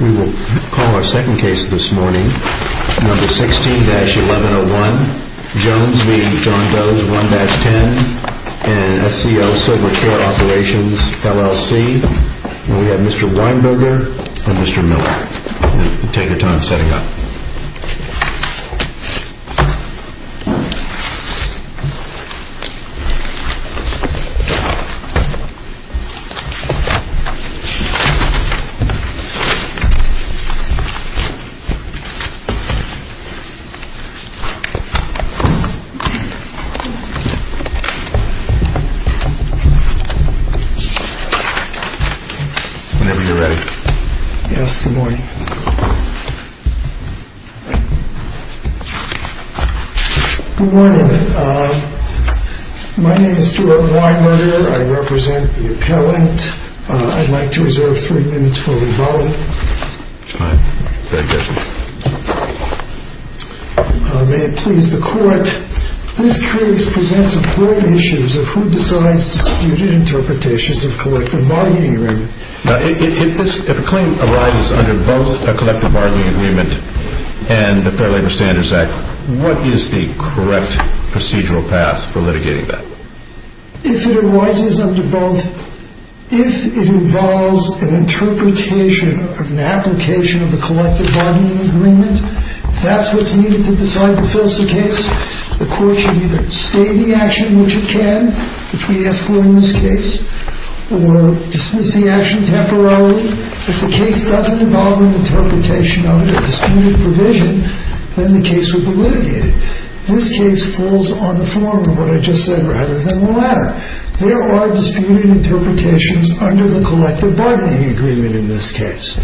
We will call our second case this morning, number 16-1101, Jones v. John Does, 1-10, and SCO Silver Care Operations, LLC. And we have Mr. Weinberger and Mr. Miller. Take your time setting up. Whenever you're ready. Yes, good morning. Good morning. My name is Stuart Weinberger. I represent the appellant. I'd like to reserve three minutes for rebuttal. That's fine. At your discretion. May it please the Court, this case presents important issues of who decides disputed interpretations of collective bargaining agreement. Now, if a claim arises under both a collective bargaining agreement and the Fair Labor Standards Act, what is the correct procedural path for litigating that? If it arises under both, if it involves an interpretation or an application of the collective bargaining agreement, if that's what's needed to decide the filsa case, the Court should either stay the action, which it can, which we ask for in this case, or dismiss the action temporarily. If the case doesn't involve an interpretation under disputed provision, then the case would be litigated. This case falls on the former, what I just said, rather than the latter. There are disputed interpretations under the collective bargaining agreement in this case.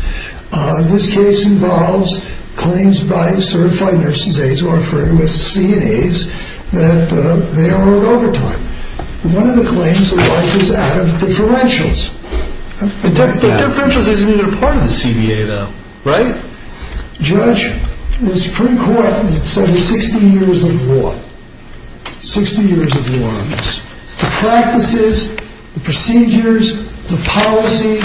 This case involves claims by certified nurses' aides, who are referred to as CNAs, that they are on overtime. One of the claims arises out of differentials. Differentials isn't even a part of the CBA, though, right? Judge, the Supreme Court said there's 60 years of law. 60 years of law on this. The practices, the procedures, the policies,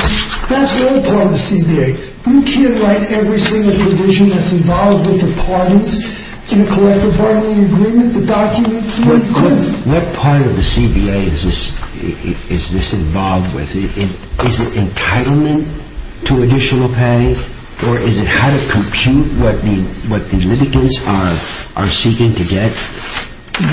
that's all part of the CBA. We can't write every single provision that's involved with the parties in a collective bargaining agreement. The documents, we couldn't. What part of the CBA is this involved with? Is it entitlement to additional pay, or is it how to compute what the litigants are seeking to get?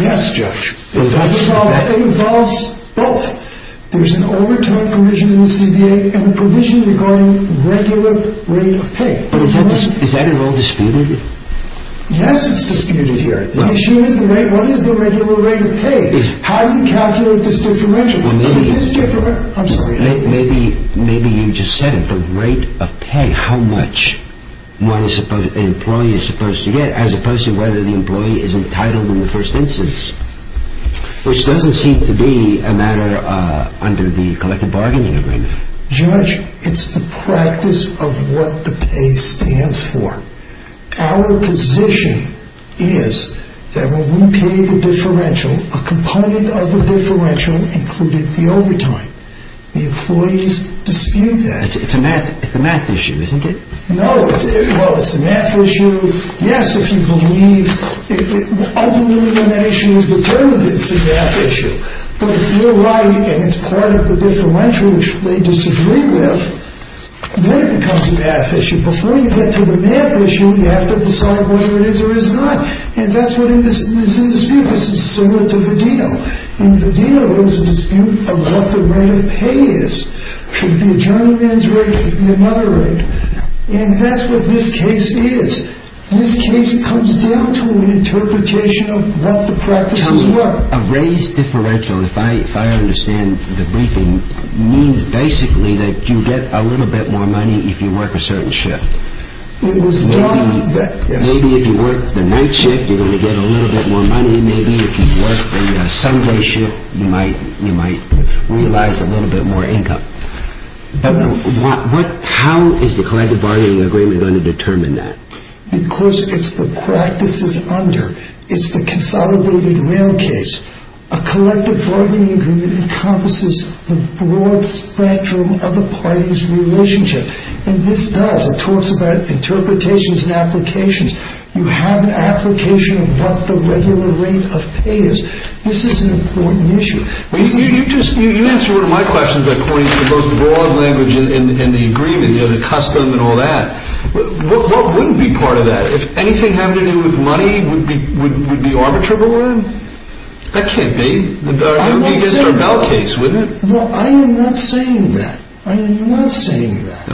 Yes, Judge. It involves both. There's an overtime provision in the CBA and a provision regarding regular rate of pay. Is that at all disputed? Yes, it's disputed here. The issue is what is the regular rate of pay? How do you calculate this differential? Maybe you just said it, but rate of pay, how much an employee is supposed to get, as opposed to whether the employee is entitled in the first instance, which doesn't seem to be a matter under the collective bargaining agreement. Judge, it's the practice of what the pay stands for. Our position is that when we pay the differential, a component of the differential included the overtime. The employees dispute that. It's a math issue, isn't it? No, well, it's a math issue. Yes, if you believe, ultimately when that issue is determined, it's a math issue. But if you're right, and it's part of the differential which they disagree with, then it becomes a math issue. Before you get to the math issue, you have to decide whether it is or is not. And that's what is in dispute. This is similar to Vadino. In Vadino, there's a dispute of what the rate of pay is. Should it be a journeyman's rate or should it be a mother rate? And that's what this case is. This case comes down to an interpretation of what the practices were. A raised differential, if I understand the briefing, means basically that you get a little bit more money if you work a certain shift. It was done on that, yes. Maybe if you work the night shift, you're going to get a little bit more money. Maybe if you work the Sunday shift, you might realize a little bit more income. But how is the collective bargaining agreement going to determine that? Because it's the practices under. It's the consolidated real case. A collective bargaining agreement encompasses the broad spectrum of the parties' relationship. And this does. It talks about interpretations and applications. You have an application of what the regular rate of pay is. This is an important issue. You answered one of my questions according to the most broad language in the agreement, the custom and all that. What wouldn't be part of that? If anything had to do with money, would it be arbitrable then? That can't be. It would be against our bail case, wouldn't it? No, I am not saying that. I am not saying that.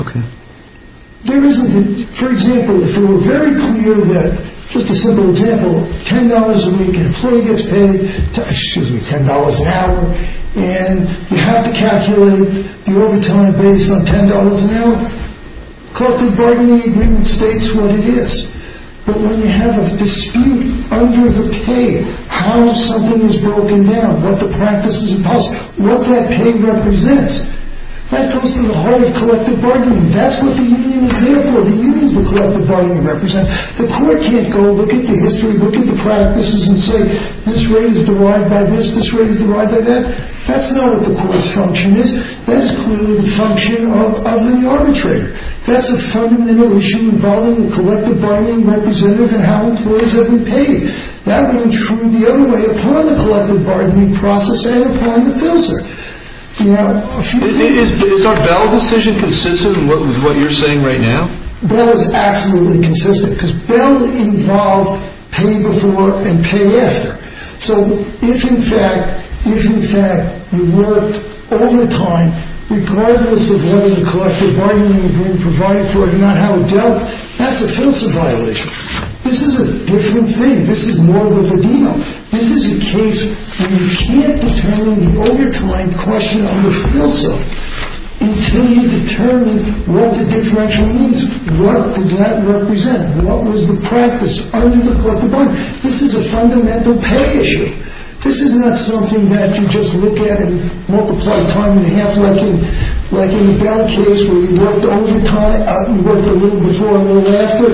For example, if it were very clear that, just a simple example, $10 a week an employee gets paid, excuse me, $10 an hour, and you have to calculate the overtime based on $10 an hour, collective bargaining agreement states what it is. But when you have a dispute under the pay, how something is broken down, what the practices are, what that pay represents, that comes to the heart of collective bargaining. That's what the union is there for. The union is the collective bargaining representative. The court can't go look at the history, look at the practices, and say this rate is derived by this, this rate is derived by that. That's not what the court's function is. That is clearly the function of the arbitrator. That's a fundamental issue involving the collective bargaining representative and how employees have been paid. That would intrude the other way upon the collective bargaining process and upon the fill cert. Is our Bell decision consistent with what you're saying right now? Bell is absolutely consistent because Bell involved pay before and pay after. So if, in fact, you worked overtime, regardless of whether the collective bargaining agreement provided for it or not, how it dealt, that's a fill cert violation. This is a different thing. This is more of a video. This is a case where you can't determine the overtime question on the fill cert until you determine what the differential means. What does that represent? What was the practice under the collective bargaining? This is a fundamental pay issue. This is not something that you just look at and multiply time in half like in the Bell case where you worked overtime, you worked a little before and a little after.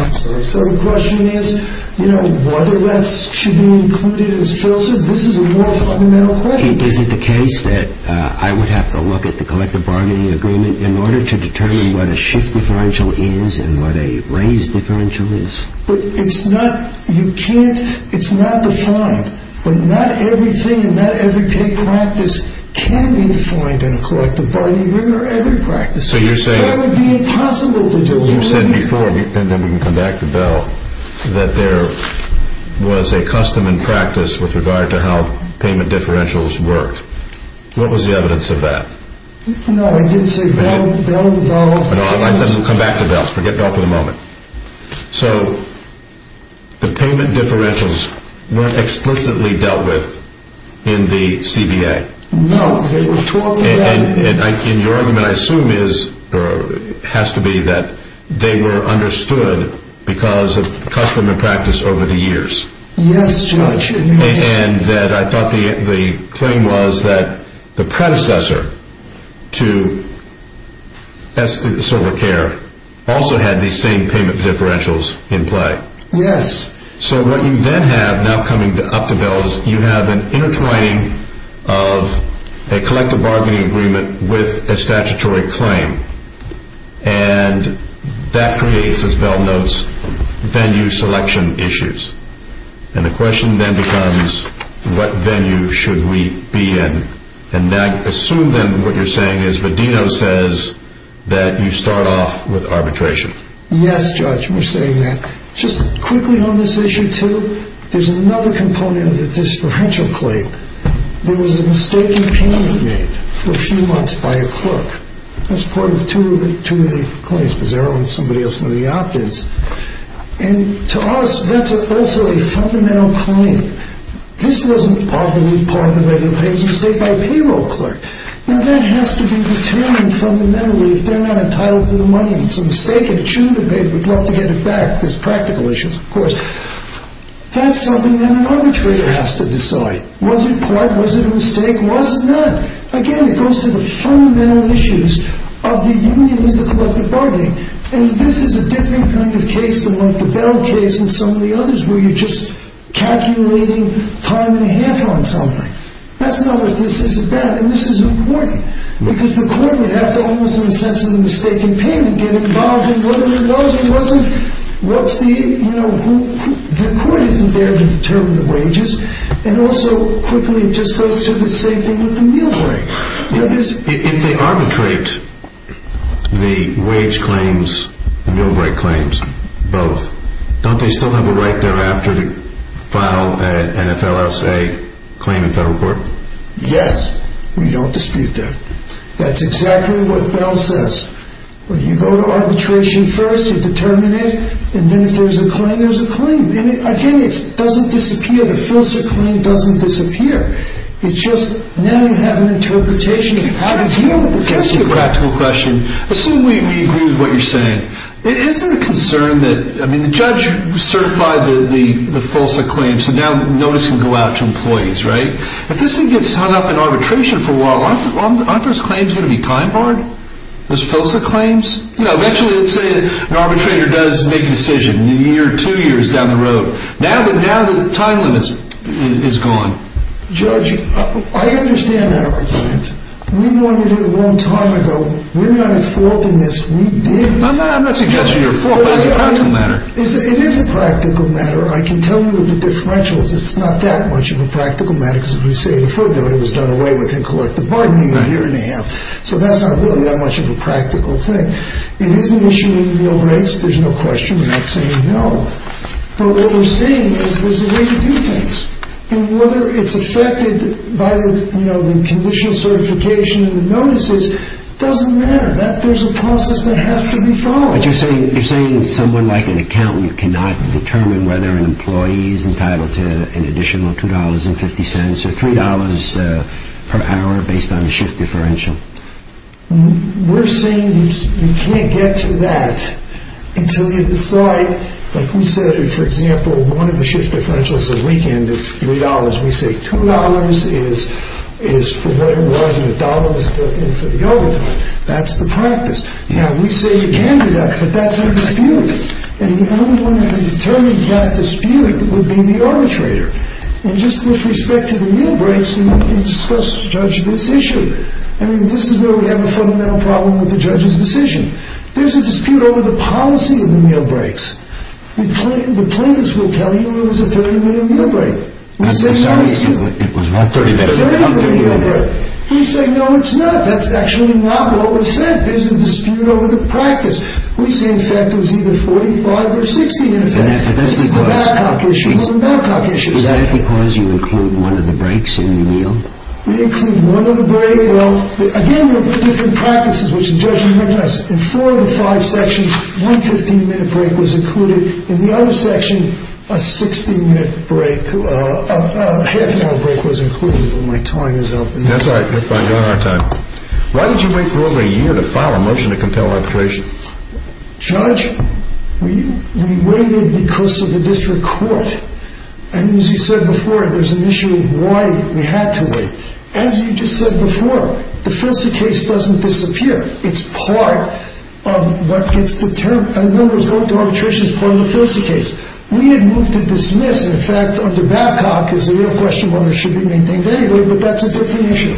I'm sorry. So the question is whether this should be included as fill cert. This is a more fundamental question. Is it the case that I would have to look at the collective bargaining agreement in order to determine what a shift differential is and what a raise differential is? It's not defined. Not everything and not every pay practice can be defined in a collective bargaining agreement or every practice. That would be impossible to do. You said before, and then we can come back to Bell, that there was a custom and practice with regard to how payment differentials worked. What was the evidence of that? No, I didn't say Bell devolved. I said we'll come back to Bell. Let's forget Bell for the moment. So the payment differentials weren't explicitly dealt with in the CBA. No. And your argument, I assume, has to be that they were understood because of custom and practice over the years. Yes, Judge. And that I thought the claim was that the predecessor to Esther SilverCare also had these same payment differentials in play. Yes. So what you then have now coming up to Bell is you have an intertwining of a collective bargaining agreement with a statutory claim. And that creates, as Bell notes, venue selection issues. And the question then becomes what venue should we be in? And I assume then what you're saying is Rodino says that you start off with arbitration. Yes, Judge. We're saying that. Just quickly on this issue too, there's another component of the differential claim. There was a mistaken payment made for a few months by a clerk. That's part of two of the claims. Mazzaro and somebody else were the opt-ins. And to us, that's also a fundamental claim. This wasn't arbitrarily part of the regular payment. It was made by a payroll clerk. Now, that has to be determined fundamentally. If they're not entitled to the money, it's a mistake, a true debate. We'd love to get it back. There's practical issues, of course. That's something that an arbitrator has to decide. Was it part? Was it a mistake? Was it not? Again, it goes to the fundamental issues of the union as a collective bargaining. And this is a different kind of case than, like, the Bell case and some of the others where you're just calculating time and a half on something. That's not what this is about. And this is important because the court would have to, almost in the sense of the mistaken payment, get involved in whether it was or wasn't. The court isn't there to determine the wages. And also, quickly, it just goes to the same thing with the meal break. If they arbitrate the wage claims, the meal break claims, both, don't they still have a right thereafter to file an NFLSA claim in federal court? Yes. We don't dispute that. That's exactly what Bell says. Well, you go to arbitration first. You determine it. And then if there's a claim, there's a claim. And, again, it doesn't disappear. The FLSA claim doesn't disappear. It's just now you have an interpretation of how to deal with the FLSA claim. Can I ask you a practical question? Assume we agree with what you're saying. Isn't it a concern that, I mean, the judge certified the FLSA claim, so now notice can go out to employees, right? If this thing gets hung up in arbitration for a while, aren't those claims going to be time barred? Those FLSA claims? You know, eventually, let's say an arbitrator does make a decision, a year or two years down the road. Now the time limit is gone. Judge, I understand that argument. We wanted it a long time ago. We're not in fault in this. We did. I'm not suggesting you're in fault, but it's a practical matter. It is a practical matter. I can tell you the differentials. It's not that much of a practical matter because, as we say in the footnote, it was done away with in collective bargaining a year and a half. So that's not really that much of a practical thing. It is an issue of meal breaks. There's no question in that saying no. But what we're saying is there's a way to do things. And whether it's affected by the conditional certification and the notices doesn't matter. There's a process that has to be followed. But you're saying someone like an accountant cannot determine whether an employee is entitled to an additional $2.50 or $3 per hour based on a shift differential? We're saying you can't get to that until you decide. Like we said, if, for example, one of the shift differentials is a weekend, it's $3. We say $2 is for what it was and $1 was built in for the overtime. That's the practice. Now we say you can do that, but that's a dispute. And the only one who can determine that dispute would be the arbitrator. And just with respect to the meal breaks, we discuss, judge this issue. I mean, this is where we have a fundamental problem with the judge's decision. There's a dispute over the policy of the meal breaks. The plaintiffs will tell you it was a 30-minute meal break. We say no, it's not. That's actually not what was said. There's a dispute over the practice. We say, in fact, it was either 45 or 60, in effect. Is that because you include one of the breaks in the meal? We include one of the breaks. Again, we have different practices, which the judge will recognize. In four of the five sections, one 15-minute break was included. In the other section, a 60-minute break, a half-hour break was included. My time is up. That's all right. You're fine. You're on our time. Why did you wait for over a year to file a motion to compel arbitration? Judge, we waited because of the district court. And as you said before, there's an issue of why we had to wait. As you just said before, the Felicity case doesn't disappear. It's part of what gets determined. The number that's going to arbitration is part of the Felicity case. We had moved to dismiss. In fact, under Babcock, it's a real question whether it should be maintained anyway, but that's a different issue.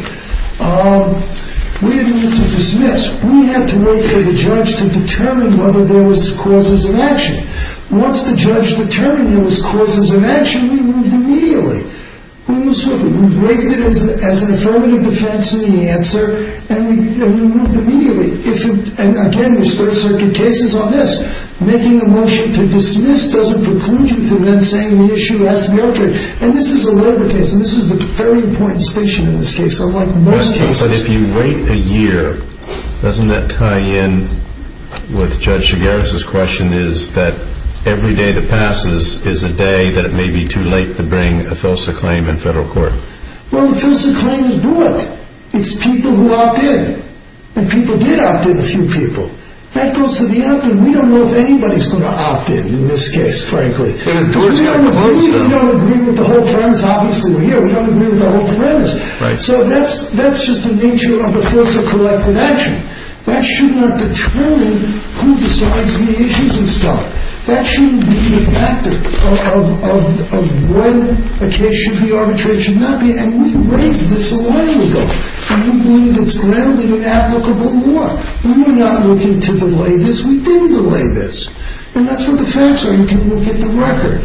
We had moved to dismiss. We had to wait for the judge to determine whether there was causes of action. Once the judge determined there was causes of action, we moved immediately. We moved swiftly. We raised it as an affirmative defense in the answer, and we moved immediately. And, again, there's Third Circuit cases on this. Making a motion to dismiss doesn't preclude you from then saying the issue has to be arbitrated. And this is a labor case, and this is the very important distinction in this case. But if you wait a year, doesn't that tie in with Judge Chigares' question, is that every day that passes is a day that it may be too late to bring a Felsa claim in federal court? Well, the Felsa claim is brought. It's people who opt in. And people did opt in, a few people. That goes to the end, and we don't know if anybody's going to opt in in this case, frankly. Obviously, we're here. So that's just the nature of a Felsa-collected action. That should not determine who decides the issues and stuff. That shouldn't be a factor of when a case should be arbitrated, should not be. And we raised this a while ago. And we believe it's grounded in applicable law. We're not looking to delay this. We didn't delay this. And that's what the facts are. You can look at the record.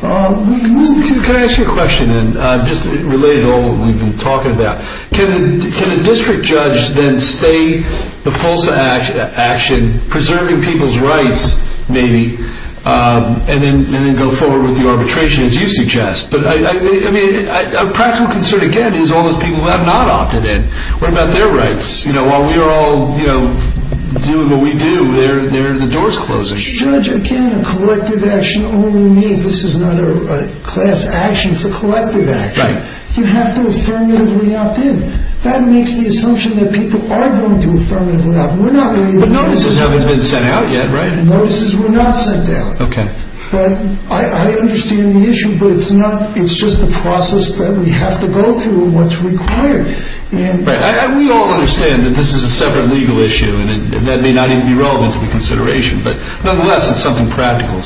Can I ask you a question, just related to all that we've been talking about? Can a district judge then stay the Felsa action, preserving people's rights, maybe, and then go forward with the arbitration, as you suggest? But a practical concern, again, is all those people who have not opted in. What about their rights? While we are all doing what we do, the door's closing. A district judge, again, a collective action only means this is not a class action. It's a collective action. Right. You have to affirmatively opt in. That makes the assumption that people are going to affirmatively opt in. But notices haven't been sent out yet, right? Notices were not sent out. Okay. But I understand the issue. But it's just the process that we have to go through and what's required. Right. We all understand that this is a separate legal issue. And that may not even be relevant to the consideration. But, nonetheless, it's something practical.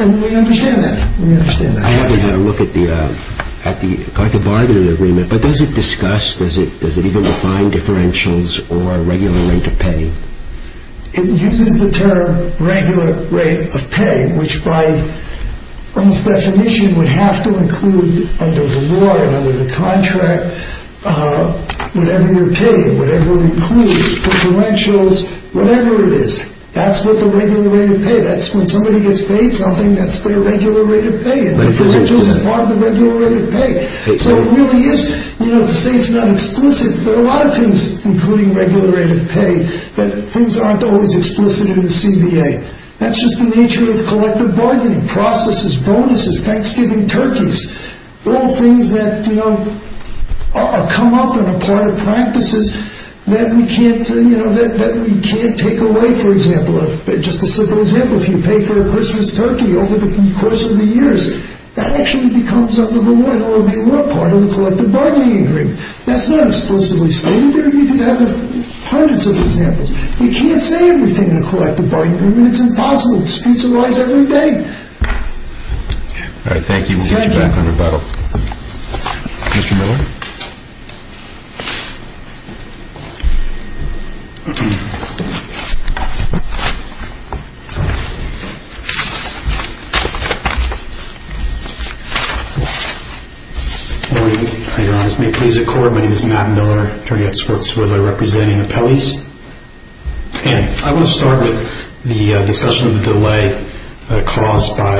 And we understand that. We understand that. I haven't had a look at the collective bargaining agreement, but does it discuss, does it even define differentials or regular rate of pay? It uses the term regular rate of pay, which by its definition would have to include under the law and under the contract whatever you're paying, whatever includes differentials, whatever it is. That's what the regular rate of pay, that's when somebody gets paid something, that's their regular rate of pay. And differentials is part of the regular rate of pay. So it really is, you know, to say it's not explicit, there are a lot of things, including regular rate of pay, that things aren't always explicit in the CBA. That's just the nature of collective bargaining, processes, bonuses, Thanksgiving turkeys, all things that, you know, come up and are part of practices that we can't, you know, that we can't take away, for example. Just a simple example, if you pay for a Christmas turkey over the course of the years, that actually becomes under the law, and we're a part of the collective bargaining agreement. That's not explicitly stated there. You could have hundreds of examples. You can't say everything in a collective bargaining agreement. It's impossible. Disputes arise every day. All right, thank you. We'll get you back on rebuttal. Mr. Miller? Mr. Miller? Your Honor, may it please the Court, my name is Matt Miller, attorney at Swartzwood, I represent the appellees. And I want to start with the discussion of the delay caused by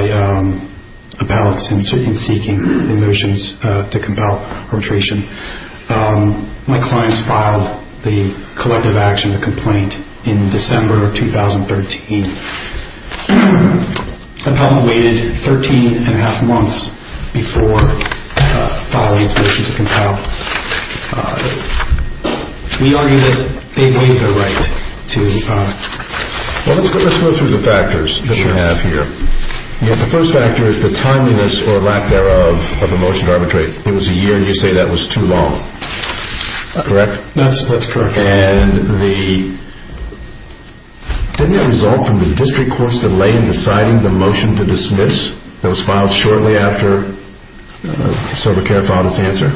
appellants in seeking the motions to compel arbitration. My clients filed the collective action complaint in December of 2013. Appellant waited 13 and a half months before filing its motion to compel. We argue that they waived their right to file it. Well, let's go through the factors that we have here. The first factor is the timeliness or lack thereof of a motion to arbitrate. It was a year, and you say that was too long. Correct? That's correct. And didn't that result from the district court's delay in deciding the motion to dismiss? It was filed shortly after sober care filed its answer.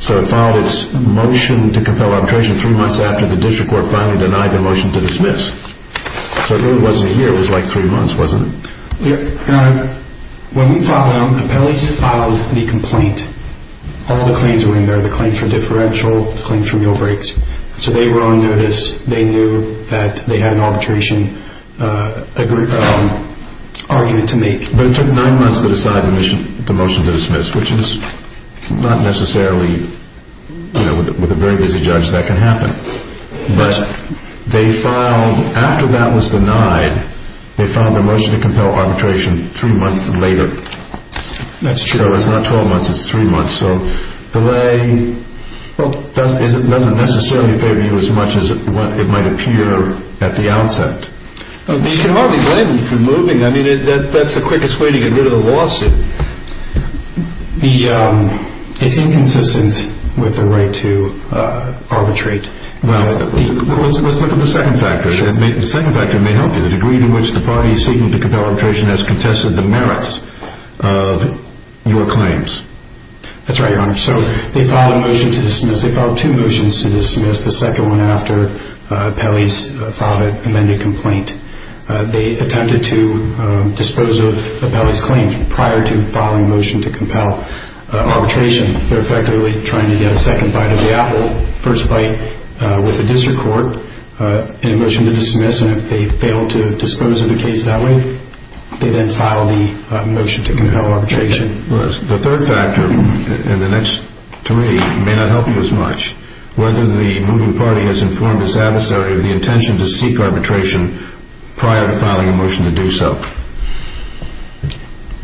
So it filed its motion to compel arbitration three months after the district court finally denied the motion to dismiss. So it really wasn't a year, it was like three months, wasn't it? When we filed them, the appellees filed the complaint. All the claims were in there, the claim for differential, the claim for meal breaks. So they were on notice, they knew that they had an arbitration argument to make. But it took nine months to decide the motion to dismiss, which is not necessarily, with a very busy judge, that can happen. But after that was denied, they filed their motion to compel arbitration three months later. That's true. So it's not 12 months, it's three months. So delay doesn't necessarily favor you as much as it might appear at the outset. You can hardly blame them for moving. I mean, that's the quickest way to get rid of the lawsuit. It's inconsistent with the right to arbitrate. Well, let's look at the second factor. The second factor may help you. The degree to which the party seeking to compel arbitration has contested the merits of your claims. That's right, Your Honor. So they filed a motion to dismiss. They filed two motions to dismiss, the second one after appellees filed an amended complaint. They attempted to dispose of appellees' claims prior to filing a motion to compel arbitration. They're effectively trying to get a second bite of the apple, first bite with the district court in a motion to dismiss, and if they fail to dispose of the case that way, they then file the motion to compel arbitration. The third factor in the next three may not help you as much. Whether the moving party has informed its adversary of the intention to seek arbitration prior to filing a motion to do so.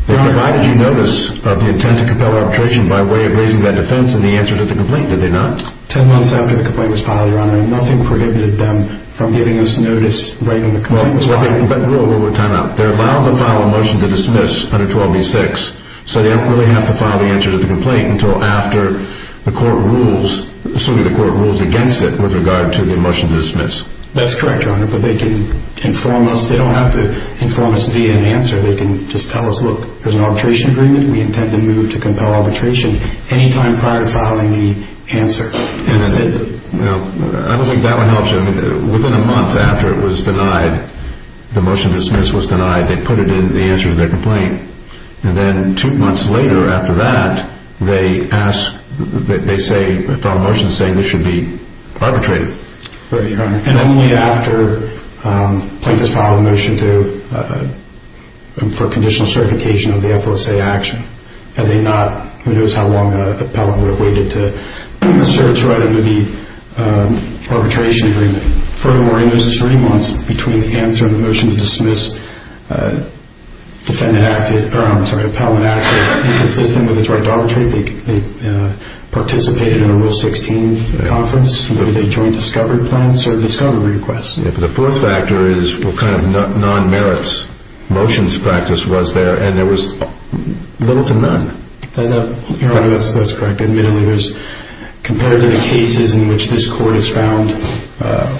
They provided you notice of the intent to compel arbitration by way of raising that defense in the answer to the complaint, did they not? Ten months after the complaint was filed, Your Honor, nothing prohibited them from giving us notice right when the complaint was filed. Time out. They're allowed to file a motion to dismiss under 12b-6, so they don't really have to file the answer to the complaint until after the court rules against it with regard to the motion to dismiss. That's correct, Your Honor, but they can inform us. They don't have to inform us via an answer. They can just tell us, look, there's an arbitration agreement. We intend to move to compel arbitration any time prior to filing the answer. I don't think that would help you. Within a month after it was denied, the motion to dismiss was denied, they put it in the answer to their complaint, and then two months later after that, they file a motion saying this should be arbitrated. Right, Your Honor, and only after a plaintiff has filed a motion for conditional certification of the FOSA action. Who knows how long an appellant would have waited to search right under the arbitration agreement. Furthermore, in those three months between the answer and the motion to dismiss, defendant acted, or I'm sorry, appellant acted inconsistent with its right to arbitrate. They participated in a Rule 16 conference. They joined discovery plans or discovery requests. The fourth factor is what kind of non-merits motions practice was there, and there was little to none. Your Honor, that's correct. Compared to the cases in which this Court has found that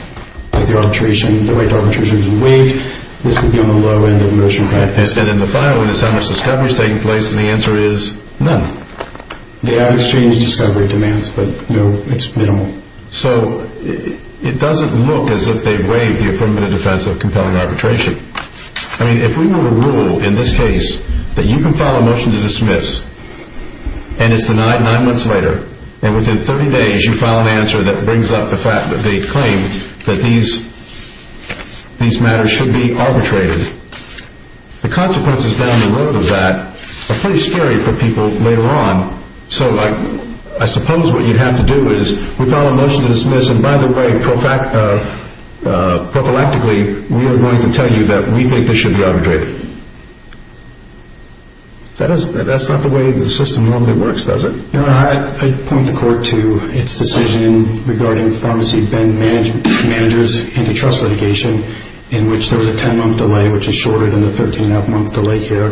the right to arbitration has been waived, this would be on the low end of the motion practice. And in the filing, it's how much discovery is taking place, and the answer is none. They have exchanged discovery demands, but no, it's minimal. So it doesn't look as if they've waived the affirmative defense of compelling arbitration. I mean, if we were to rule in this case that you can file a motion to dismiss and it's denied nine months later, and within 30 days you file an answer that brings up the fact that they claim that these matters should be arbitrated, the consequences down the road of that are pretty scary for people later on. So I suppose what you'd have to do is we file a motion to dismiss, and by the way, prophylactically, we are going to tell you that we think this should be arbitrated. That's not the way the system normally works, does it? Your Honor, I'd point the Court to its decision regarding Pharmacy Bend Manager's antitrust litigation in which there was a 10-month delay, which is shorter than the 13-and-a-half-month delay here.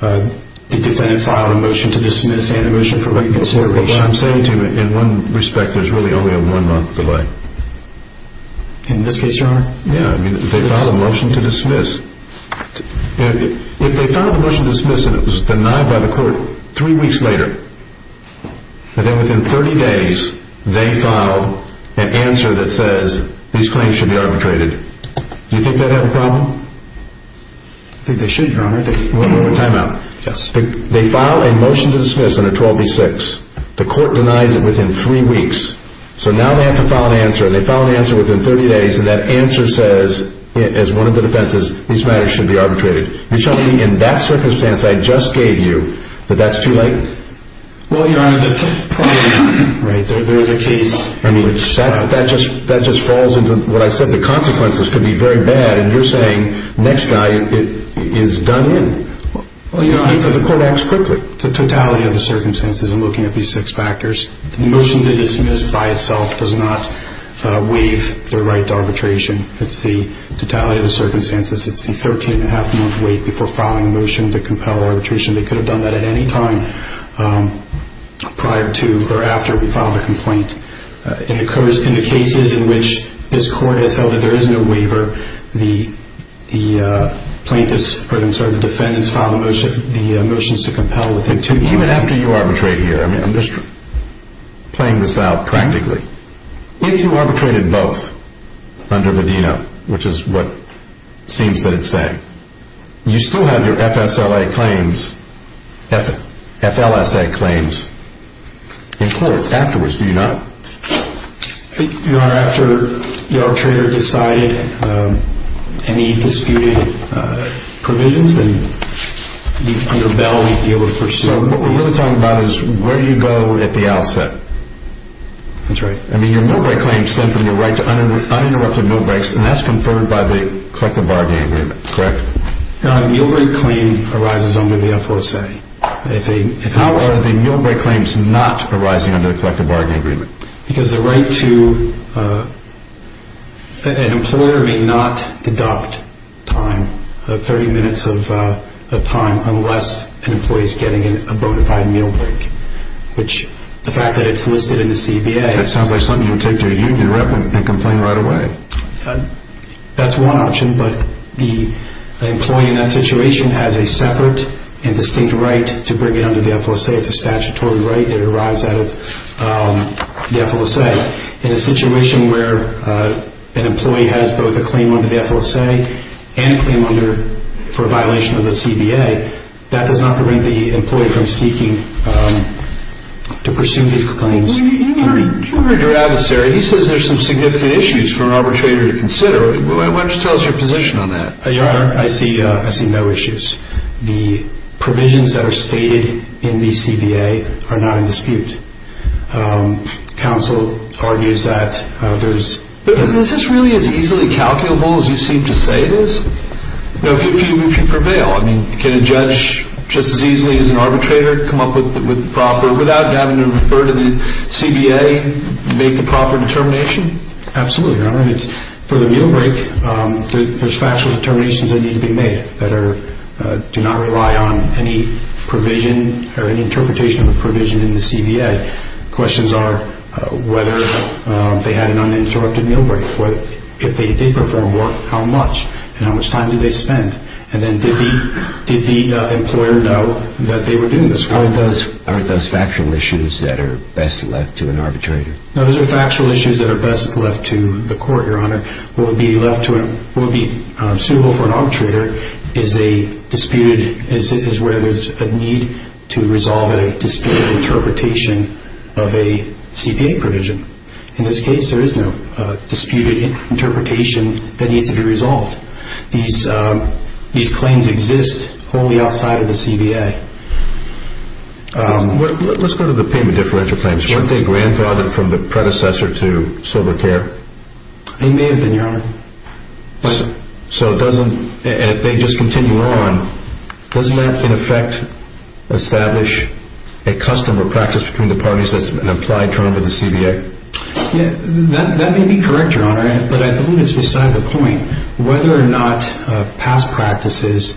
The defendant filed a motion to dismiss and a motion for reconsideration. Well, what I'm saying to you, in one respect, there's really only a one-month delay. In this case, Your Honor? Yeah, they filed a motion to dismiss. If they filed a motion to dismiss and it was denied by the Court three weeks later, and then within 30 days they file an answer that says these claims should be arbitrated, do you think they'd have a problem? I think they should, Your Honor. One more timeout. Yes. They file a motion to dismiss under 12b-6. They file an answer within 30 days, and that answer says, as one of the defenses, these matters should be arbitrated. You're telling me in that circumstance I just gave you that that's too late? Well, Your Honor, there is a case... I mean, that just falls into what I said. The consequences could be very bad, and you're saying next night it is done in. Well, Your Honor... And so the Court acts quickly. The totality of the circumstances in looking at these six factors, the motion to dismiss by itself does not waive the right to arbitration. It's the totality of the circumstances. It's the 13-and-a-half-month wait before filing a motion to compel arbitration. They could have done that at any time prior to or after we filed a complaint. In the cases in which this Court has held that there is no waiver, the plaintiffs or the defendants file the motions to compel within two months. Even after you arbitrate here, I mean, I'm just playing this out practically. If you arbitrated both under Medina, which is what it seems that it's saying, you still have your FSLA claims, FLSA claims in court afterwards, do you not? Your Honor, after the arbitrator decided any disputed provisions, then under Bell we'd be able to pursue... So what we're really talking about is where you go at the outset. That's right. I mean, your meal-break claims stem from your right to uninterrupted meal breaks, and that's conferred by the collective bargaining agreement, correct? A meal-break claim arises under the FLSA. How are the meal-break claims not arising under the collective bargaining agreement? Because the right to... An employer may not deduct time, 30 minutes of time, unless an employee is getting a bona fide meal break, which the fact that it's listed in the CBA... That sounds like something you would take to a union rep and complain right away. That's one option, but the employee in that situation has a separate and distinct right to bring it under the FLSA. It's a statutory right that arrives out of the FLSA. In a situation where an employee has both a claim under the FLSA and a claim for a violation of the CBA, that does not prevent the employee from seeking to pursue these claims. Your Honor, you heard your adversary. He says there's some significant issues for an arbitrator to consider. Why don't you tell us your position on that? Your Honor, I see no issues. The provisions that are stated in the CBA are not in dispute. Counsel argues that there's... Is this really as easily calculable as you seem to say it is? If you prevail, can a judge just as easily as an arbitrator come up with proper... without having to refer to the CBA, make the proper determination? Absolutely, Your Honor. For the meal break, there's factual determinations that need to be made that do not rely on any provision or any interpretation of the provision in the CBA. Questions are whether they had an uninterrupted meal break. If they did perform work, how much and how much time did they spend? And then did the employer know that they were doing this? Aren't those factual issues that are best left to an arbitrator? No, those are factual issues that are best left to the court, Your Honor. What would be suitable for an arbitrator is a disputed... is where there's a need to resolve a disputed interpretation of a CBA provision. In this case, there is no disputed interpretation that needs to be resolved. These claims exist wholly outside of the CBA. Let's go to the payment differential claims. Weren't they grandfathered from the predecessor to sober care? They may have been, Your Honor. So it doesn't... and if they just continue on, doesn't that in effect establish a custom or practice between the parties that's an implied term of the CBA? That may be correct, Your Honor, but I believe it's beside the point. Whether or not past practices,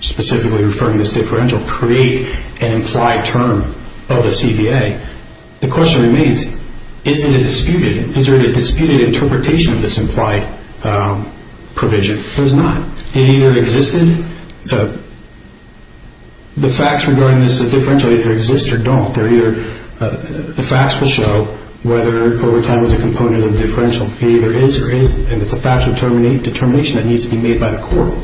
specifically referring to this differential, create an implied term of the CBA, the question remains, is it a disputed... is there a disputed interpretation of this implied provision? There's not. It either existed... the facts regarding this differential either exist or don't. They're either... the facts will show whether overtime was a component of the differential. It either is or isn't, and it's a fact of determination that needs to be made by the court.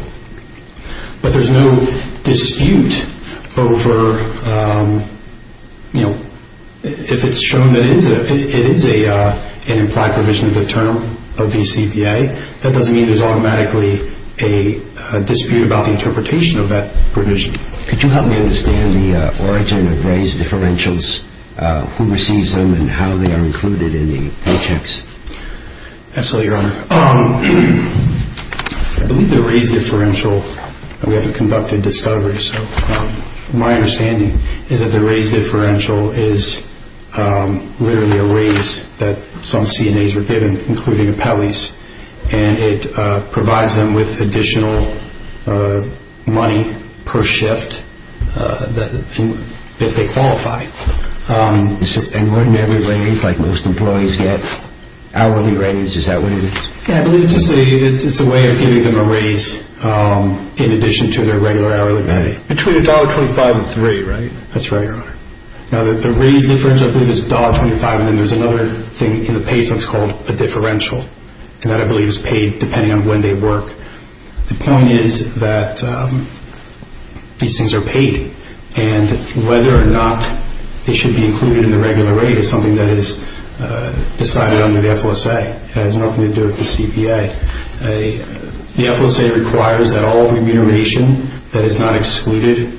But there's no dispute over... if it's shown that it is an implied provision of the term of the CBA, that doesn't mean there's automatically a dispute about the interpretation of that provision. Could you help me understand the origin of raised differentials, who receives them, and how they are included in the paychecks? Absolutely, Your Honor. I believe the raised differential... we haven't conducted discovery, so my understanding is that the raised differential is literally a raise that some CNAs were given, including appellees, and it provides them with additional money per shift if they qualify. And when every raise, like most employees get, hourly raise, is that what it is? Yeah, I believe it's a way of giving them a raise in addition to their regular hourly pay. Between $1.25 and $3, right? That's right, Your Honor. Now, the raised differential, I believe, is $1.25, and then there's another thing in the paychecks called a differential, and that, I believe, is paid depending on when they work. The point is that these things are paid, and whether or not they should be included in the regular rate is something that is decided under the FOSA. It has nothing to do with the CPA. The FOSA requires that all remuneration that is not excluded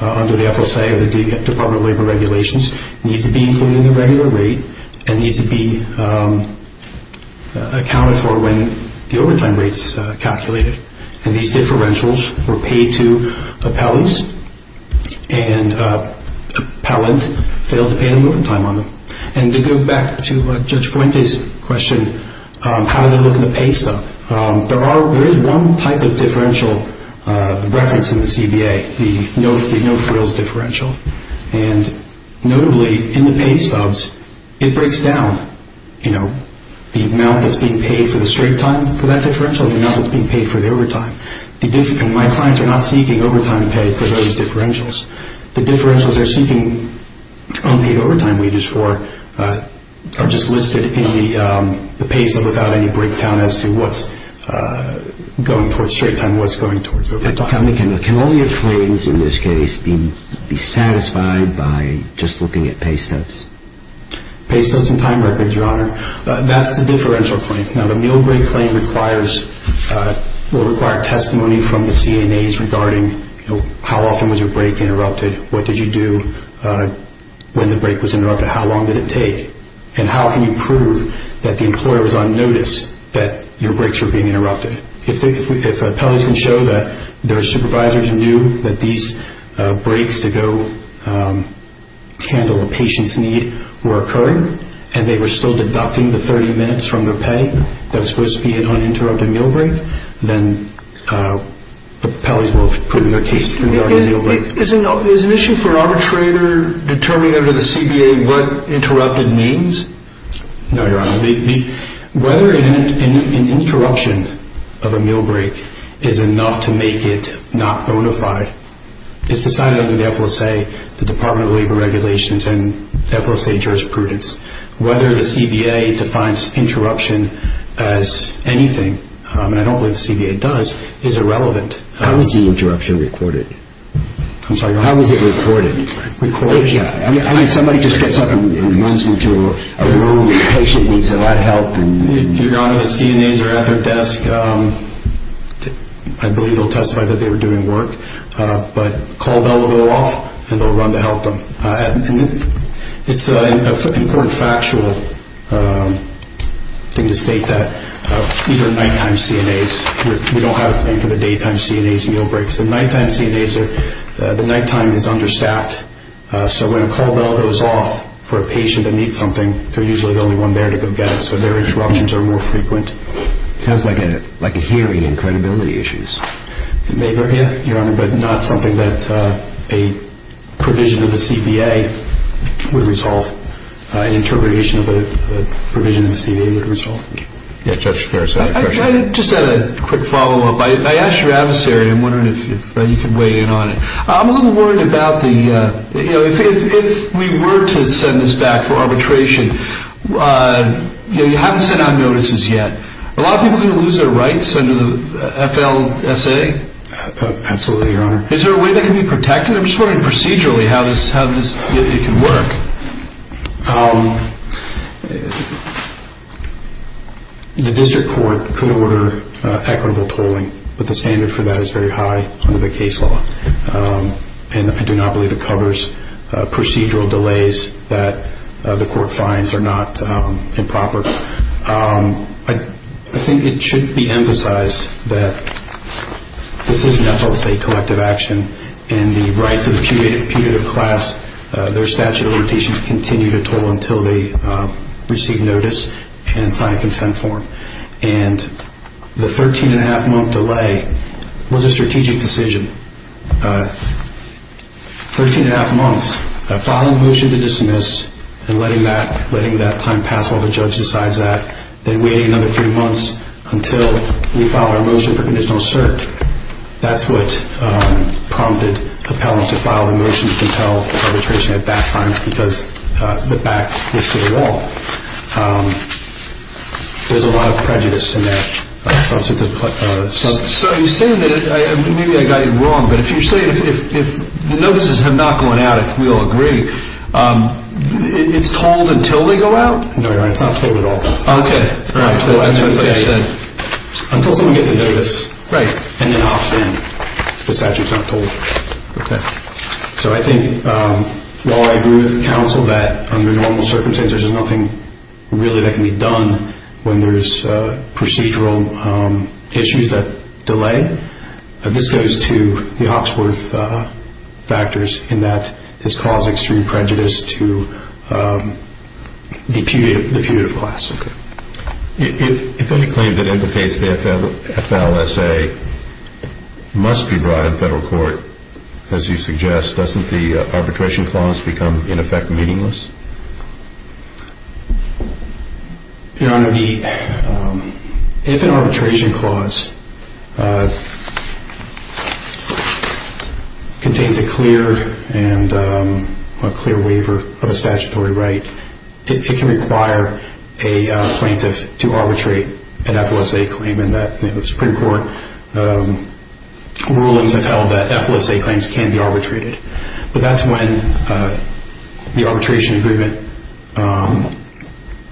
under the FOSA or the Department of Labor regulations needs to be included in the regular rate and needs to be accounted for when the overtime rate is calculated. And these differentials were paid to appellees, and appellant failed to pay the moving time on them. And to go back to Judge Fuente's question, how do they look in the pay stuff, there is one type of differential reference in the CBA, the no-frills differential. And notably, in the pay subs, it breaks down, you know, the amount that's being paid for the straight time for that differential and the amount that's being paid for the overtime. And my clients are not seeking overtime pay for those differentials. The differentials they're seeking unpaid overtime wages for are just listed in the pay sub without any breakdown as to what's going towards straight time and what's going towards overtime. But tell me, can all your claims in this case be satisfied by just looking at pay subs? Pay subs and time records, Your Honor, that's the differential claim. Now, the meal break claim will require testimony from the CNAs regarding how often was your break interrupted, what did you do when the break was interrupted, how long did it take, and how can you prove that the employer was on notice that your breaks were being interrupted. If appellees can show that their supervisors knew that these breaks to go handle a patient's need were occurring and they were still deducting the 30 minutes from their pay, that was supposed to be an uninterrupted meal break, then appellees will prove their case regarding the meal break. Is an issue for arbitrator determining under the CBA what interrupted means? No, Your Honor. Whether an interruption of a meal break is enough to make it not bona fide is decided under the FLSA, the Department of Labor Regulations, and FLSA jurisprudence. Whether the CBA defines interruption as anything, and I don't believe the CBA does, is irrelevant. How was the interruption recorded? I'm sorry, Your Honor. How was it recorded? Somebody just gets up and runs into a room, a patient needs a lot of help, Your Honor, the CNAs are at their desk. I believe they'll testify that they were doing work. But call bell will go off and they'll run to help them. It's an important factual thing to state that these are nighttime CNAs. We don't have anything for the daytime CNAs and meal breaks. The nighttime CNAs, the nighttime is understaffed. So when a call bell goes off for a patient that needs something, they're usually the only one there to go get it. So their interruptions are more frequent. It sounds like a hearing in credibility issues. It may vary, Your Honor, but not something that a provision of the CBA would resolve. An interpretation of a provision of the CBA would resolve. Judge Shapiro, do you have a question? I just had a quick follow-up. I asked your adversary, I'm wondering if you can weigh in on it. I'm a little worried about the—if we were to send this back for arbitration, you haven't sent out notices yet. Are a lot of people going to lose their rights under the FLSA? Absolutely, Your Honor. Is there a way that can be protected? I'm just wondering procedurally how it can work. The district court could order equitable tolling, but the standard for that is very high under the case law. And I do not believe it covers procedural delays that the court finds are not improper. I think it should be emphasized that this is an FLSA collective action, and the rights of the punitive class, their statute of limitations continue to toll until they receive notice and sign a consent form. And the 13-and-a-half-month delay was a strategic decision. Thirteen-and-a-half months, filing a motion to dismiss and letting that time pass while the judge decides that, then waiting another three months until we file our motion for conditional cert. That's what prompted appellant to file a motion to compel arbitration at that time because the back was to the wall. There's a lot of prejudice in that. So you're saying that, maybe I got you wrong, but if you're saying if notices have not gone out, if we all agree, it's tolled until they go out? No, Your Honor, it's not tolled at all. Okay. Until someone gets a notice and then opts in. The statute's not tolled. Okay. So I think while I agree with counsel that under normal circumstances there's nothing really that can be done when there's procedural issues that delay, this goes to the Hawksworth factors in that it's causing extreme prejudice to the putative class. Okay. If any claim that imitates the FLSA must be brought in federal court, as you suggest, doesn't the arbitration clause become, in effect, meaningless? Your Honor, if an arbitration clause contains a clear waiver of a statutory right, it can require a plaintiff to arbitrate an FLSA claim and the Supreme Court rulings have held that FLSA claims can be arbitrated. But that's when the arbitration agreement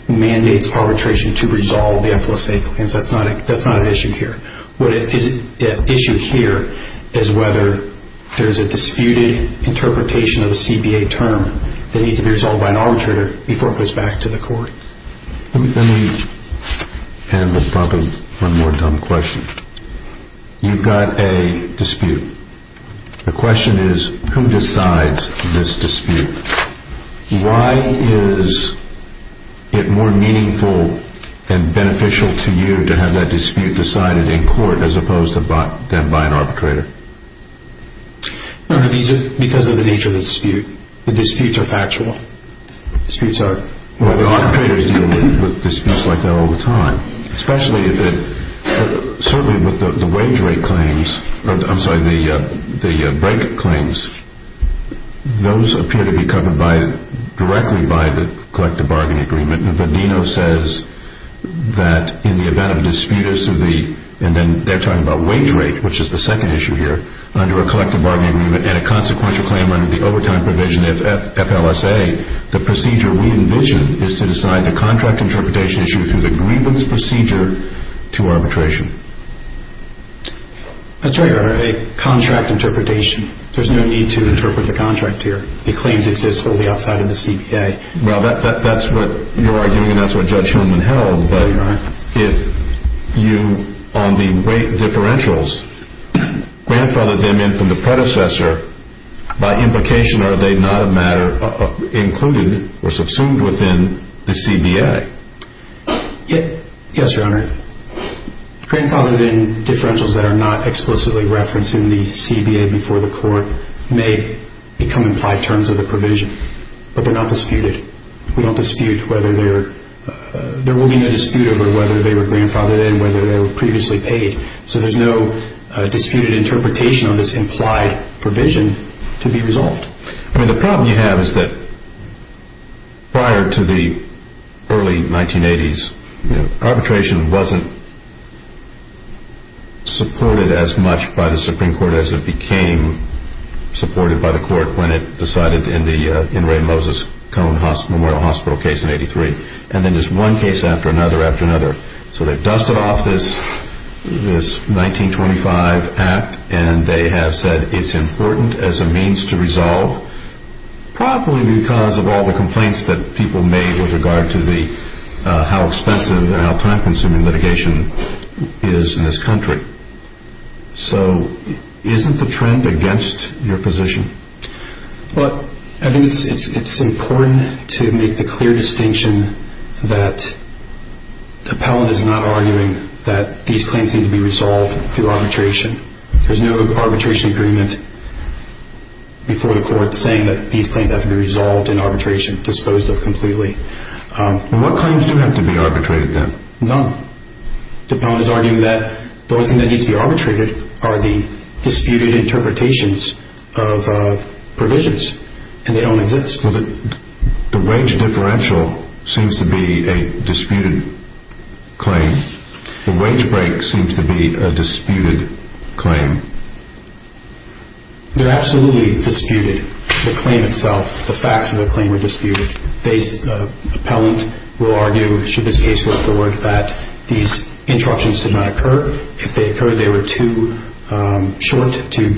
mandates arbitration to resolve the FLSA claims. That's not an issue here. The issue here is whether there's a disputed interpretation of a CBA term that needs to be resolved by an arbitrator before it goes back to the court. Let me end with probably one more dumb question. You've got a dispute. The question is, who decides this dispute? Why is it more meaningful and beneficial to you to have that dispute decided in court as opposed to them by an arbitrator? Your Honor, these are because of the nature of the dispute. The disputes are factual. Well, the arbitrator is dealing with disputes like that all the time. Certainly with the wage rate claims, I'm sorry, the break claims, those appear to be covered directly by the collective bargaining agreement. Vadino says that in the event of a dispute, and they're talking about wage rate, which is the second issue here, under a collective bargaining agreement and a consequential claim under the overtime provision, if FLSA, the procedure we envision is to decide the contract interpretation issue through the grievance procedure to arbitration. That's right, Your Honor, a contract interpretation. There's no need to interpret the contract here. The claims exist fully outside of the CBA. Well, that's what you're arguing, and that's what Judge Hillman held. But if you, on the weight differentials, grandfathered them in from the predecessor, by implication are they not a matter included or subsumed within the CBA? Yes, Your Honor. Grandfathered in differentials that are not explicitly referenced in the CBA before the court may become implied terms of the provision, but they're not disputed. We don't dispute whether they're, there will be no dispute over whether they were grandfathered in, whether they were previously paid. So there's no disputed interpretation of this implied provision to be resolved. I mean, the problem you have is that prior to the early 1980s, arbitration wasn't supported as much by the Supreme Court as it became supported by the court when it decided in the Ray Moses Cone Memorial Hospital case in 83. And then there's one case after another after another. So they've dusted off this 1925 act, and they have said it's important as a means to resolve, probably because of all the complaints that people made with regard to how expensive and how time-consuming litigation is in this country. So isn't the trend against your position? Well, I think it's important to make the clear distinction that the appellant is not arguing that these claims need to be resolved through arbitration. There's no arbitration agreement before the court saying that these claims have to be resolved in arbitration, disposed of completely. What claims do have to be arbitrated then? None. The appellant is arguing that the only thing that needs to be arbitrated are the disputed interpretations of provisions, and they don't exist. The wage differential seems to be a disputed claim. The wage break seems to be a disputed claim. They're absolutely disputed. The claim itself, the facts of the claim are disputed. The appellant will argue, should this case work forward, that these interruptions did not occur. If they occurred, they were too short to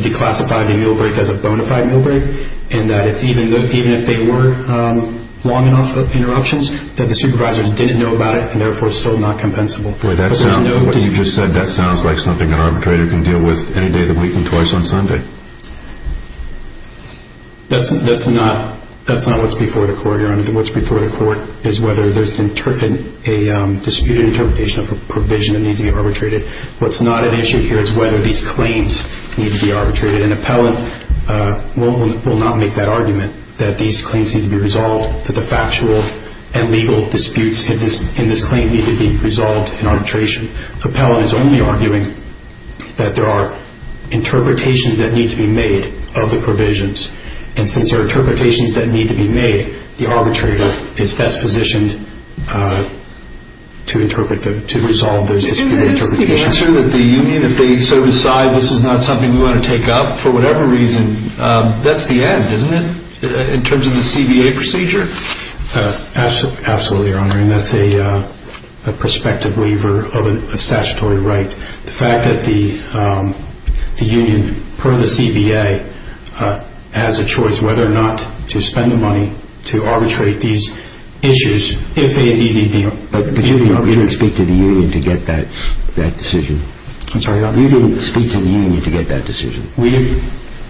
declassify the meal break as a bona fide meal break, and that even if they were long enough interruptions, that the supervisors didn't know about it and therefore it's still not compensable. What you just said, that sounds like something an arbitrator can deal with any day of the week and twice on Sunday. That's not what's before the court. What's before the court is whether there's a disputed interpretation of a provision that needs to be arbitrated. What's not at issue here is whether these claims need to be arbitrated. An appellant will not make that argument that these claims need to be resolved, that the factual and legal disputes in this claim need to be resolved in arbitration. The appellant is only arguing that there are interpretations that need to be made of the provisions, and since there are interpretations that need to be made, the arbitrator is best positioned to resolve those disputed interpretations. Isn't that the answer that the union, if they so decide this is not something we want to take up for whatever reason, that's the end, isn't it, in terms of the CBA procedure? Absolutely, Your Honor, and that's a prospective waiver of a statutory right. The fact that the union, per the CBA, has a choice whether or not to spend the money to arbitrate these issues, if they indeed need to be arbitrated. But you didn't speak to the union to get that decision. I'm sorry, Your Honor? You didn't speak to the union to get that decision. We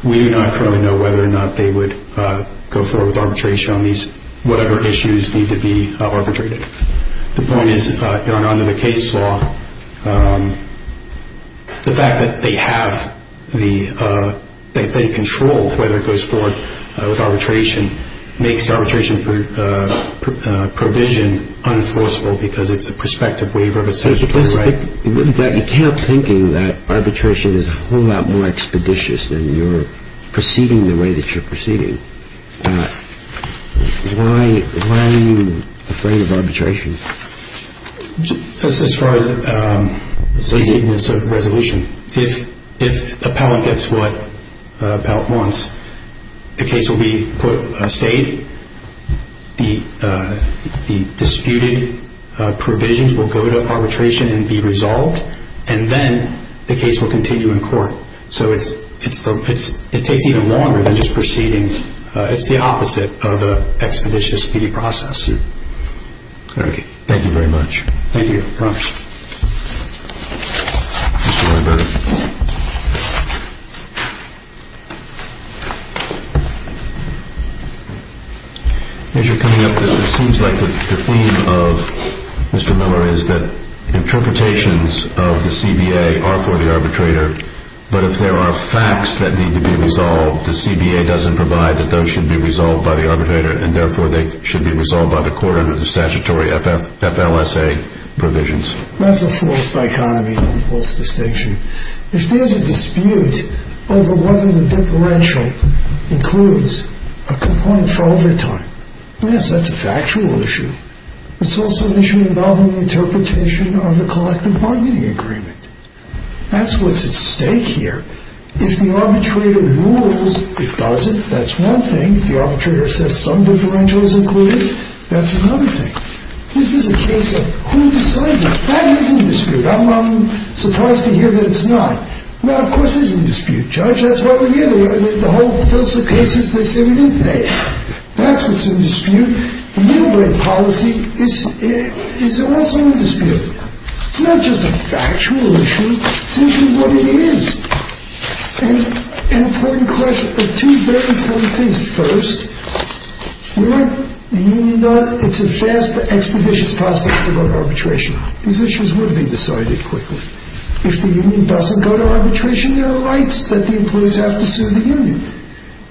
do not currently know whether or not they would go forward with arbitration on whatever issues need to be arbitrated. The point is, Your Honor, under the case law, the fact that they have the, that they control whether it goes forward with arbitration, makes the arbitration provision unenforceable because it's a prospective waiver of a statutory right. You came up thinking that arbitration is a whole lot more expeditious than you're proceeding the way that you're proceeding. Why are you afraid of arbitration? That's as far as the resolution. If appellant gets what appellant wants, the case will be put aside, the disputed provisions will go to arbitration and be resolved, and then the case will continue in court. So it takes even longer than just proceeding. It's the opposite of an expeditious speedy process. Thank you very much. Thank you, Your Honor. Mr. Weinberg. As you're coming up, it seems like the theme of Mr. Miller is that interpretations of the CBA are for the arbitrator, but if there are facts that need to be resolved, the CBA doesn't provide that those should be resolved by the arbitrator, and therefore they should be resolved by the court under the statutory FLSA provisions. That's a false dichotomy, a false distinction. If there's a dispute over whether the differential includes a component for overtime, yes, that's a factual issue. It's also an issue involving the interpretation of the collective bargaining agreement. That's what's at stake here. If the arbitrator rules it doesn't, that's one thing. If the arbitrator says some differential is included, that's another thing. This is a case of who decides it. That is in dispute. I'm surprised to hear that it's not. That, of course, is in dispute. Judge, that's what we hear. The whole FLSA cases, they say we didn't pay. That's what's in dispute. The Millbrae policy is also in dispute. It's not just a factual issue. It's an issue of what it is. An important question. Two very important things. First, we want the union done. It's a fast, expeditious process to go to arbitration. These issues will be decided quickly. If the union doesn't go to arbitration, there are rights that the employees have to sue the union.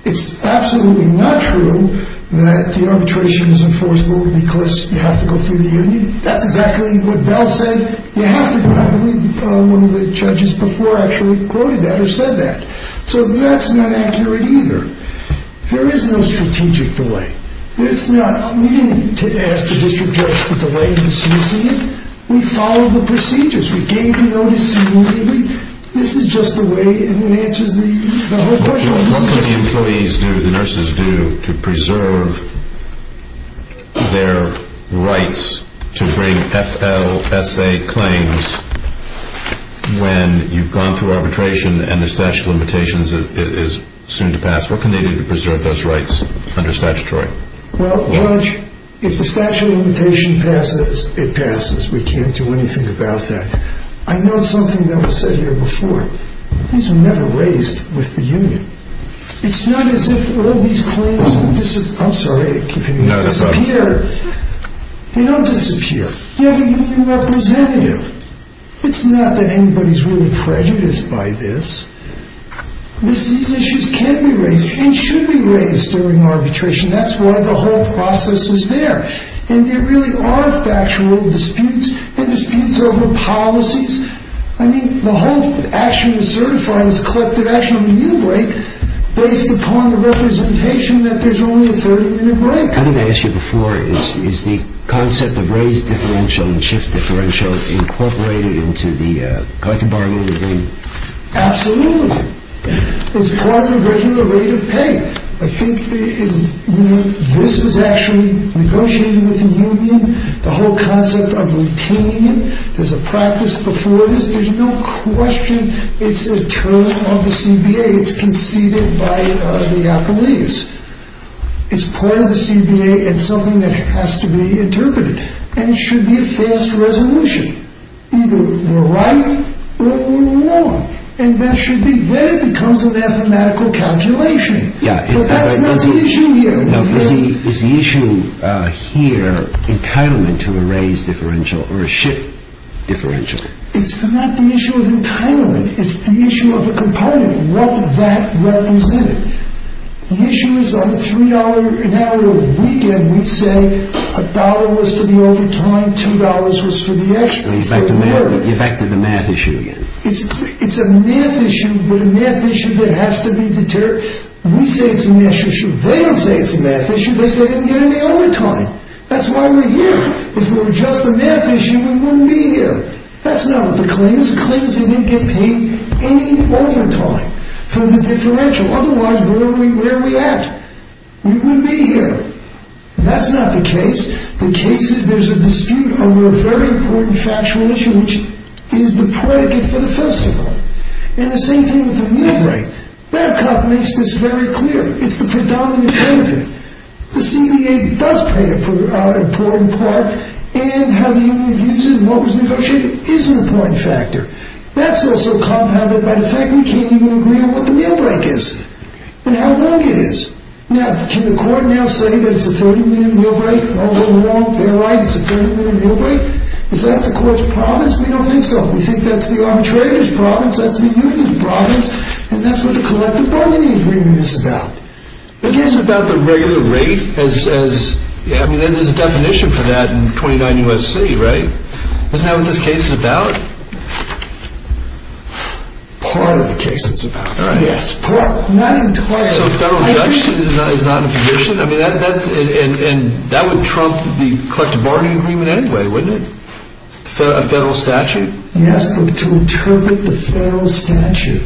It's absolutely not true that the arbitration is enforceable because you have to go through the union. That's exactly what Bell said. You have to. I believe one of the judges before actually quoted that or said that. That's not accurate either. There is no strategic delay. We didn't ask the district judge to delay the suing. We followed the procedures. We gave him notice immediately. This is just the way and it answers the whole question. What can the employees do, the nurses do, to preserve their rights to bring FLSA claims when you've gone through arbitration and the statute of limitations is soon to pass? What can they do to preserve those rights under statutory? Well, Judge, if the statute of limitations passes, it passes. We can't do anything about that. I know something that was said here before. These were never raised with the union. It's not as if all these claims disappear. They don't disappear. You have a union representative. It's not that anybody's really prejudiced by this. These issues can be raised and should be raised during arbitration. That's why the whole process is there. And there really are factual disputes and disputes over policies. I mean, the whole action is certified as a collective action on the union break based upon the representation that there's only a 30-minute break. I think I asked you before. Is the concept of raised differential and shift differential incorporated into the collective bargaining agreement? Absolutely. It's part of the regular rate of pay. I think this was actually negotiated with the union, the whole concept of retaining it. There's a practice before this. There's no question it's a term of the CBA. It's conceded by the appellees. It's part of the CBA. It's something that has to be interpreted. And it should be a fast resolution, either we're right or we're wrong. And that should be. Then it becomes a mathematical calculation. But that's not the issue here. Is the issue here entitlement to a raised differential or a shift differential? It's not the issue of entitlement. It's the issue of a component, what that represents. The issue is on the $3 an hour weekend, we say $1 was for the overtime, $2 was for the extra. You're back to the math issue again. It's a math issue, but a math issue that has to be deterred. We say it's a math issue. They don't say it's a math issue. They say they didn't get any overtime. That's why we're here. If it were just a math issue, we wouldn't be here. That's not what the claim is. The claim is they didn't get paid any overtime for the differential. Otherwise, where are we at? We wouldn't be here. That's not the case. The case is there's a dispute over a very important factual issue, which is the predicate for the festival. And the same thing with the meal break. Maricop makes this very clear. It's the predominant benefit. The CDA does play an important part, and how the union views it and what was negotiated is an important factor. That's also compounded by the fact we can't even agree on what the meal break is and how long it is. Now, can the court now say that it's a 30-minute meal break? All along, they're right, it's a 30-minute meal break. Is that the court's province? We don't think so. We think that's the arbitrator's province, that's the union's province, and that's what the collective bargaining agreement is about. The case is about the regular rate. There's a definition for that in 29 U.S.C., right? Isn't that what this case is about? Part of the case it's about, yes. Not entirely. So federal reduction is not a condition? That would trump the collective bargaining agreement anyway, wouldn't it? A federal statute? Yes, but to interpret the federal statute,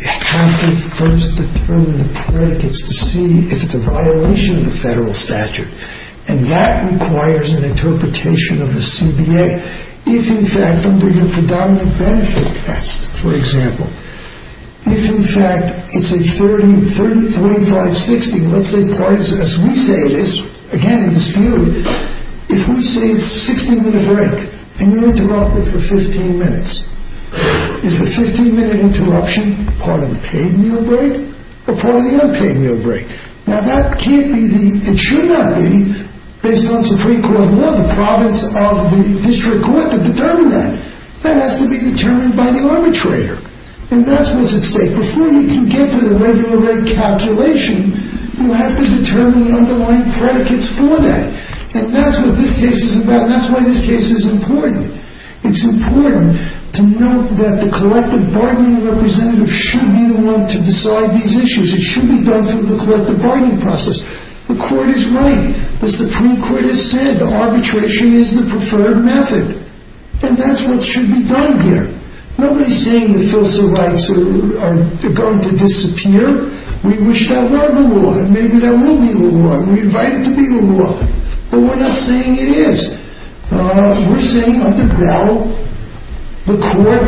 you have to first determine the predicates to see if it's a violation of the federal statute, and that requires an interpretation of the CBA. If, in fact, under your predominant benefit test, for example, if, in fact, it's a 35-60, let's say partisan, as we say it is, again in dispute, if we say it's a 60-minute break and you interrupt it for 15 minutes, is the 15-minute interruption part of the paid meal break or part of the unpaid meal break? Now, that can't be the, it should not be, based on Supreme Court law, the province of the district court to determine that. That has to be determined by the arbitrator, and that's what's at stake. Before you can get to the regular rate calculation, you have to determine the underlying predicates for that. And that's what this case is about, and that's why this case is important. It's important to note that the collective bargaining representative should be the one to decide these issues. It should be done through the collective bargaining process. The court is right. The Supreme Court has said arbitration is the preferred method, and that's what should be done here. Nobody's saying the filial rights are going to disappear. We wish that were the law, and maybe that will be the law. We invite it to be the law, but we're not saying it is. We're saying under Bell, the court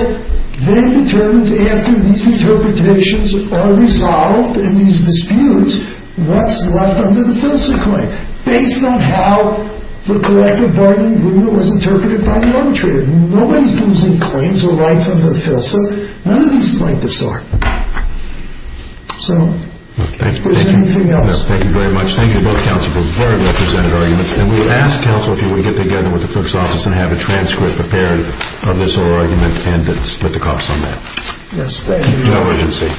then determines after these interpretations are resolved and these disputes, what's left under the Filsa claim, based on how the collective bargaining rule was interpreted by the arbitrator. Nobody's losing claims or rights under the Filsa. None of these plaintiffs are. So, if there's anything else. Thank you very much. Thank you to both counsel for those very representative arguments. And we would ask counsel if you would get together with the clerk's office and have a transcript prepared of this whole argument and to split the costs on that. Yes, thank you. No urgency.